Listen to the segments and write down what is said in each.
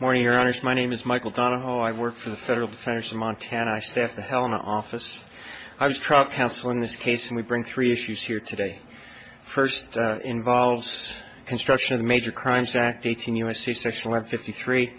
Morning, Your Honors. My name is Michael Donahoe. I work for the Federal Defenders of Montana. I staff the Helena office. I was trial counsel in this case, and we bring three issues here today. First involves construction of the Major Crimes Act, 18 U.S.C. section 1153,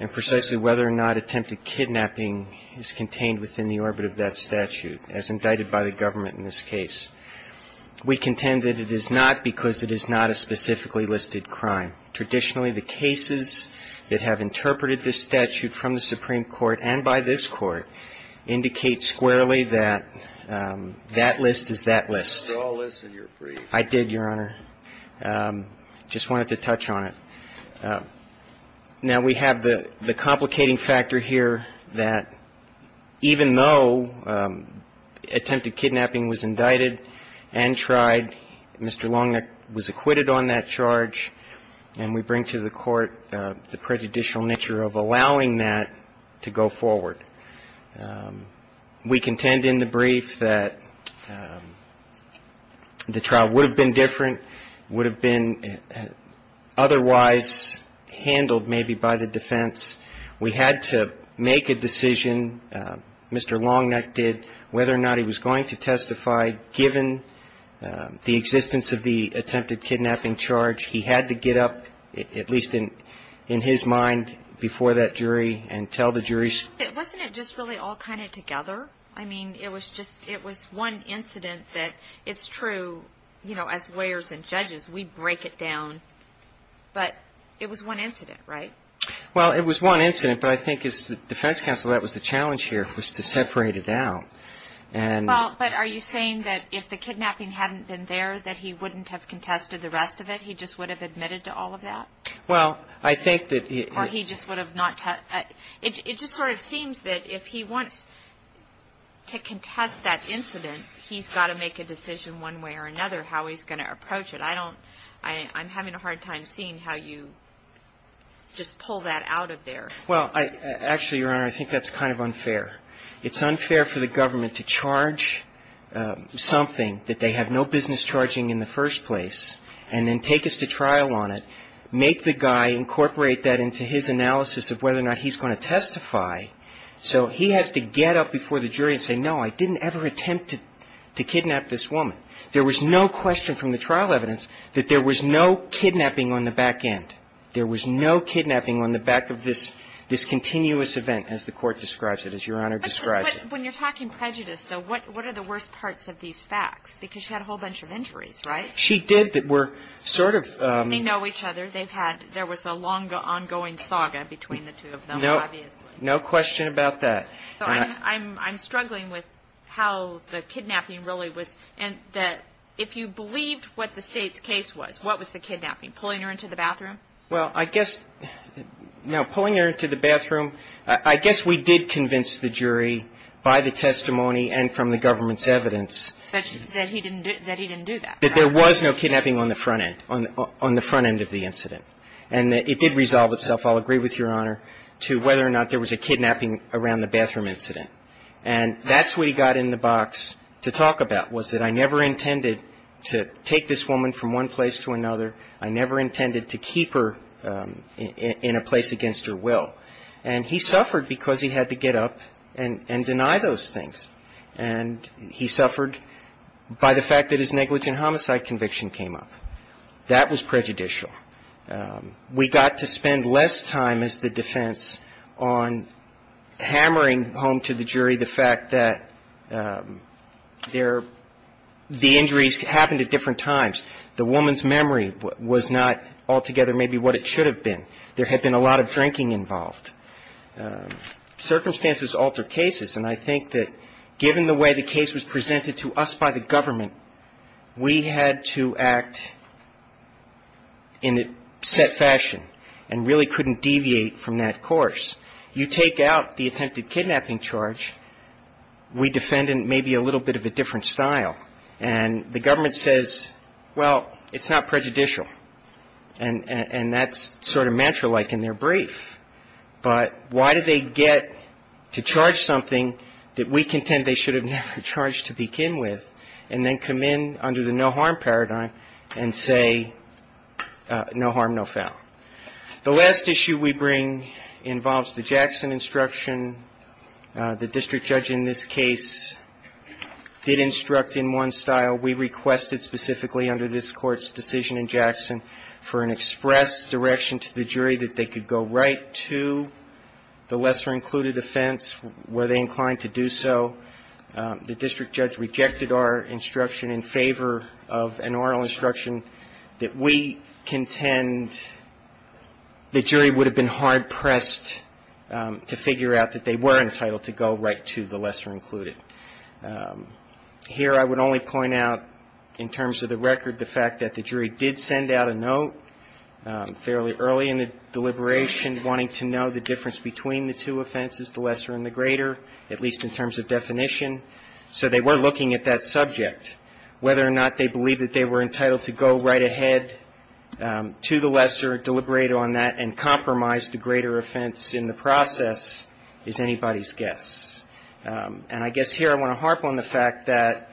and precisely whether or not attempted kidnapping is contained within the orbit of that statute, as indicted by the government in this case. We contend that it is not because it is not a specifically listed crime. Traditionally, the cases that have interpreted this statute from the Supreme Court and by this Court indicate squarely that that list is that list. They're all listed in your brief. I did, Your Honor. Just wanted to touch on it. Now, we have the complicating factor here that even though attempted kidnapping was acquitted on that charge, and we bring to the Court the prejudicial nature of allowing that to go forward, we contend in the brief that the trial would have been different, would have been otherwise handled maybe by the defense. We had to make a decision, Mr. Long Neck did, whether or not he was going to testify given the existence of the attempted kidnapping charge. He had to get up, at least in his mind, before that jury and tell the juries. Wasn't it just really all kind of together? I mean, it was one incident that it's true, as lawyers and judges, we break it down, but it was one incident, right? Well, it was one incident, but I think as the defense counsel, that was the challenge here, was to separate it out. Well, but are you saying that if the kidnapping hadn't been there, that he wouldn't have contested the rest of it? He just would have admitted to all of that? Well, I think that he Or he just would have not It just sort of seems that if he wants to contest that incident, he's got to make a decision one way or another how he's going to approach it. I'm having a hard time seeing how you just pull that out of there. Well, actually, Your Honor, I think that's kind of unfair. It's unfair for the government to charge something that they have no business charging in the first place and then take us to trial on it, make the guy incorporate that into his analysis of whether or not he's going to testify. So he has to get up before the jury and say, no, I didn't ever attempt to kidnap this woman. There was no question from the trial evidence that there was no kidnapping on the back end. There was no kidnapping on the back of this, this continuous event, as the Court describes it, as Your Honor describes it. But when you're talking prejudice, though, what are the worst parts of these facts? Because she had a whole bunch of injuries, right? She did that were sort of They know each other. They've had there was a longer ongoing saga between the two of them. No, no question about that. I'm struggling with how the kidnapping really was. And that if you believed what the state's case was, what was the kidnapping? Pulling her into the bathroom? Well, I guess now pulling her into the bathroom, I guess we did convince the jury by the testimony and from the government's evidence that he didn't do that. That there was no kidnapping on the front end, on the front end of the incident. And it did resolve itself, I'll agree with Your Honor, to whether or not there was a kidnapping around the bathroom incident. And that's what he got in the box to talk about, was that I never intended to take this woman from one place to another. I never intended to keep her in a place against her will. And he suffered because he had to get up and deny those things. And he suffered by the fact that his negligent homicide conviction came up. That was prejudicial. We got to spend less time as the defense on hammering home to the jury the fact that the injuries happened at different times. The woman's memory was not altogether maybe what it should have been. There had been a lot of drinking involved. Circumstances alter cases. And I think that given the way the case was presented to us by the government, we had to act in a set fashion and really couldn't deviate from that course. You take out the attempted kidnapping charge, we defend in maybe a little bit of a different style. And the government says, well, it's not prejudicial. And that's sort of mantra-like in their brief. But why do they get to charge something that we contend they should have never charged to begin with and then come in under the no harm paradigm and say no harm, no foul? The last issue we bring involves the Jackson instruction. The district judge in this case did instruct in one style. We requested specifically under this Court's decision in Jackson for an express direction to the jury that they could go right to the lesser included offense. Were they inclined to do so? The district judge rejected our instruction in favor of an oral instruction that we contend the jury would have been hard-pressed to figure out that they were entitled to go right to the lesser included. Here I would only point out in terms of the record the fact that the jury did send out a note fairly early in the deliberation wanting to know the difference between the two offenses, the lesser and the greater, at least in terms of definition. So they were looking at that subject. Whether or not they believed that they were entitled to go right ahead to the lesser, deliberate on that and compromise the greater offense in the process is anybody's guess. And I guess here I want to harp on the fact that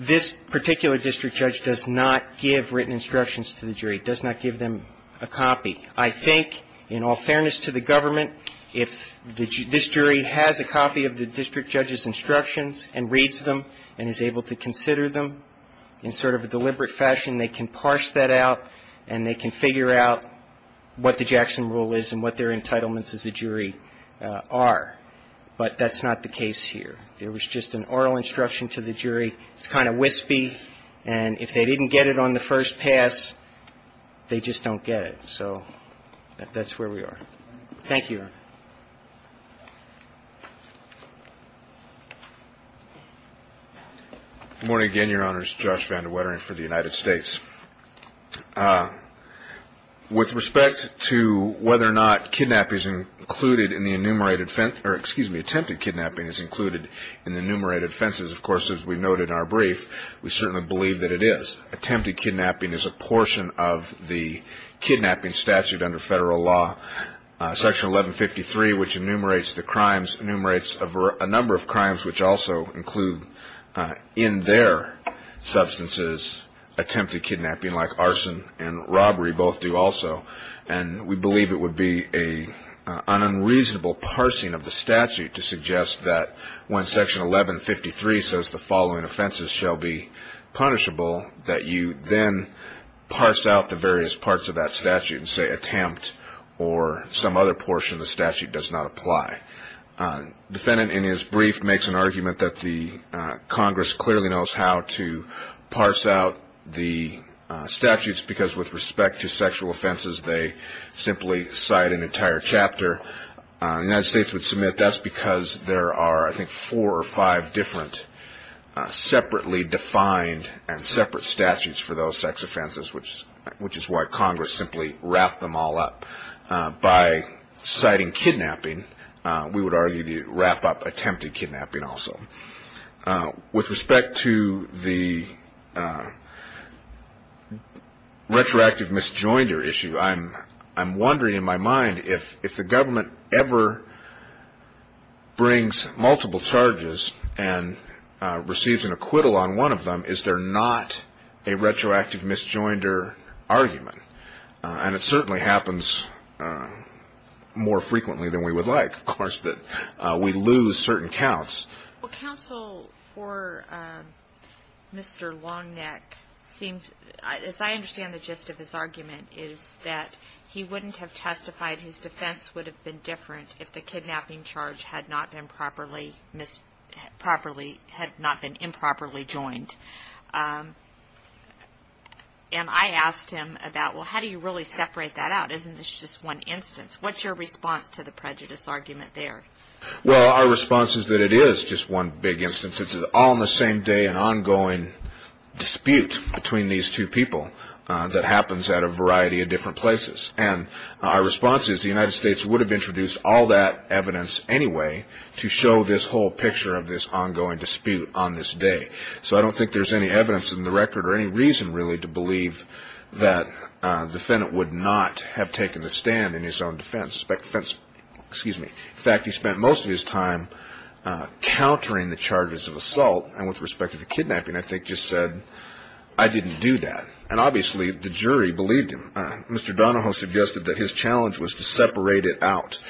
this particular district judge does not give written instructions to the jury. It does not give them a copy. I think in all fairness to the government, if this jury has a copy of the district judge's instructions and reads them and is able to consider them in sort of a deliberate fashion, they can parse that out and they can figure out what the Jackson rule is and what their entitlements as a jury are. But that's not the case here. There was just an oral instruction to the jury. It's kind of wispy. And if they didn't get it on the first pass, they just don't get it. So that's where we are. Thank you. Good morning again, Your Honors. Josh Vandewetteren for the United States. With respect to whether or not kidnapping is included in the enumerated or, excuse me, attempted kidnapping is included in the enumerated offenses, of course, as we noted in our brief, we certainly believe that it is. Attempted kidnapping is a portion of the kidnapping statute under federal law. Section 1153, which enumerates the crimes, enumerates a number of crimes, which also include in their substances attempted kidnapping like arson and robbery both do also. And we believe it would be an unreasonable parsing of the statute to suggest that when Section 1153 says the following offenses shall be punishable, that you then parse out the various parts of that statute and say attempt or some other portion of the statute does not apply. The defendant in his brief makes an argument that the Congress clearly knows how to parse out the statutes because with respect to sexual offenses they simply cite an entire chapter. The United States would submit that's because there are, I think, four or five different separately defined and separate statutes for those sex offenses, which is why Congress simply wrapped them all up. By citing kidnapping, we would argue the wrap-up attempted kidnapping also. With respect to the retroactive misjoinder issue, I'm wondering in my mind if the government ever brings multiple charges and receives an acquittal on one of them, is there not a retroactive misjoinder argument? And it certainly happens more frequently than we would like. Of course, we lose certain counts. Well, counsel, for Mr. Longneck, as I understand the gist of his argument, is that he wouldn't have testified. His defense would have been different if the kidnapping charge had not been improperly joined. And I asked him about, well, how do you really separate that out? Isn't this just one instance? What's your response to the prejudice argument there? Well, our response is that it is just one big instance. It's all in the same day an ongoing dispute between these two people that happens at a variety of different places. And our response is the United States would have introduced all that evidence anyway to show this whole picture of this ongoing dispute on this day. So I don't think there's any evidence in the record or any reason really to believe that the defendant would not have taken the stand in his own defense. In fact, he spent most of his time countering the charges of assault and with respect to the kidnapping I think just said, I didn't do that. And obviously the jury believed him. Mr. Donahoe suggested that his challenge was to separate it out.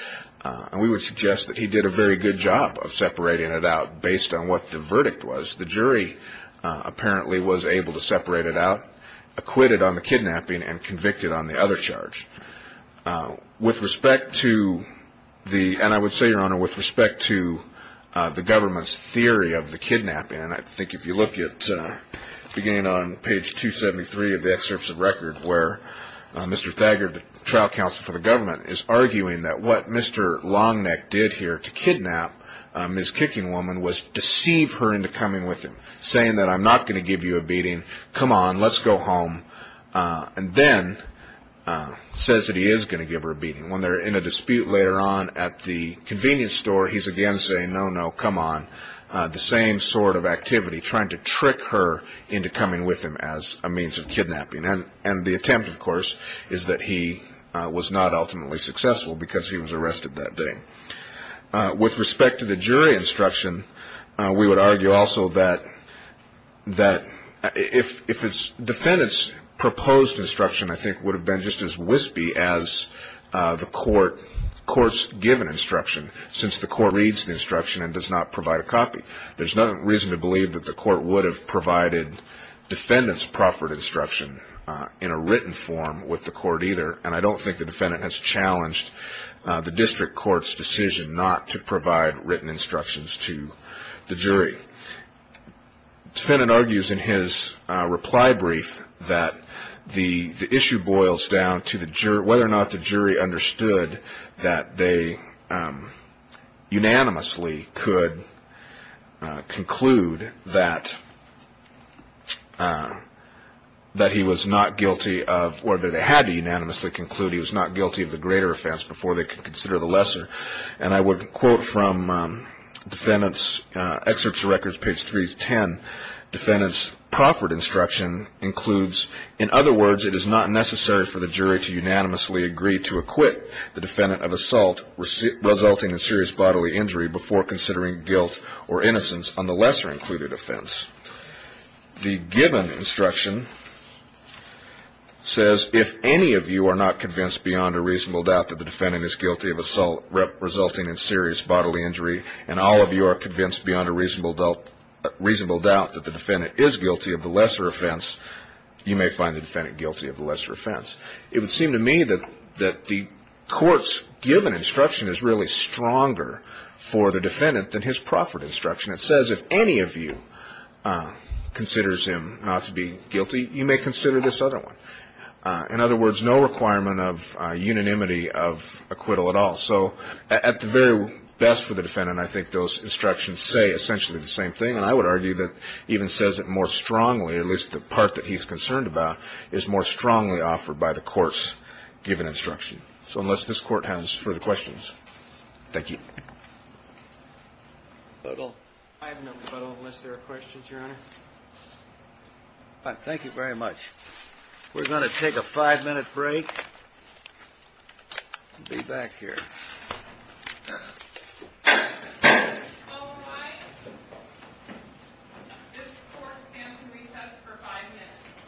And we would suggest that he did a very good job of separating it out based on what the verdict was. The jury apparently was able to separate it out, acquitted on the kidnapping and convicted on the other charge. With respect to the, and I would say, Your Honor, with respect to the government's theory of the kidnapping, and I think if you look at beginning on page 273 of the excerpts of record where Mr. Thager, the trial counsel for the government, is arguing that what Mr. Longneck did here to kidnap Ms. Kicking Woman was deceive her into coming with him, saying that I'm not going to give you a beating. Come on, let's go home. And then says that he is going to give her a beating. When they're in a dispute later on at the convenience store, he's again saying no, no, come on. The same sort of activity, trying to trick her into coming with him as a means of kidnapping. And the attempt, of course, is that he was not ultimately successful because he was arrested that day. With respect to the jury instruction, we would argue also that if it's defendant's proposed instruction, I think would have been just as wispy as the court's given instruction, since the court reads the instruction and does not provide a copy. There's no reason to believe that the court would have provided defendant's proffered instruction in a written form with the court either, and I don't think the defendant has challenged the district court's decision not to provide written instructions to the jury. The defendant argues in his reply brief that the issue boils down to whether or not the jury understood that they unanimously could conclude that he was not guilty of, or that they had to unanimously conclude he was not guilty of the greater offense before they could consider the lesser. And I would quote from defendant's excerpts records, page 310. Defendant's proffered instruction includes, in other words, it is not necessary for the jury to unanimously agree to acquit the defendant of assault resulting in serious bodily injury before considering guilt or innocence on the lesser included offense. The given instruction says if any of you are not convinced beyond a reasonable doubt that the defendant is guilty of assault resulting in serious bodily injury, and all of you are convinced beyond a reasonable doubt that the defendant is guilty of the lesser offense, you may find the defendant guilty of the lesser offense. It would seem to me that the court's given instruction is really stronger for the defendant than his proffered instruction. It says if any of you considers him not to be guilty, you may consider this other one. In other words, no requirement of unanimity of acquittal at all. So at the very best for the defendant, I think those instructions say essentially the same thing, and I would argue that even says it more strongly, at least the part that he's concerned about, is more strongly offered by the court's given instruction. So unless this Court has further questions. Thank you. I have no further questions, Your Honor. Thank you very much. We're going to take a five-minute break and be back here. All rise. This Court stands to recess for five minutes.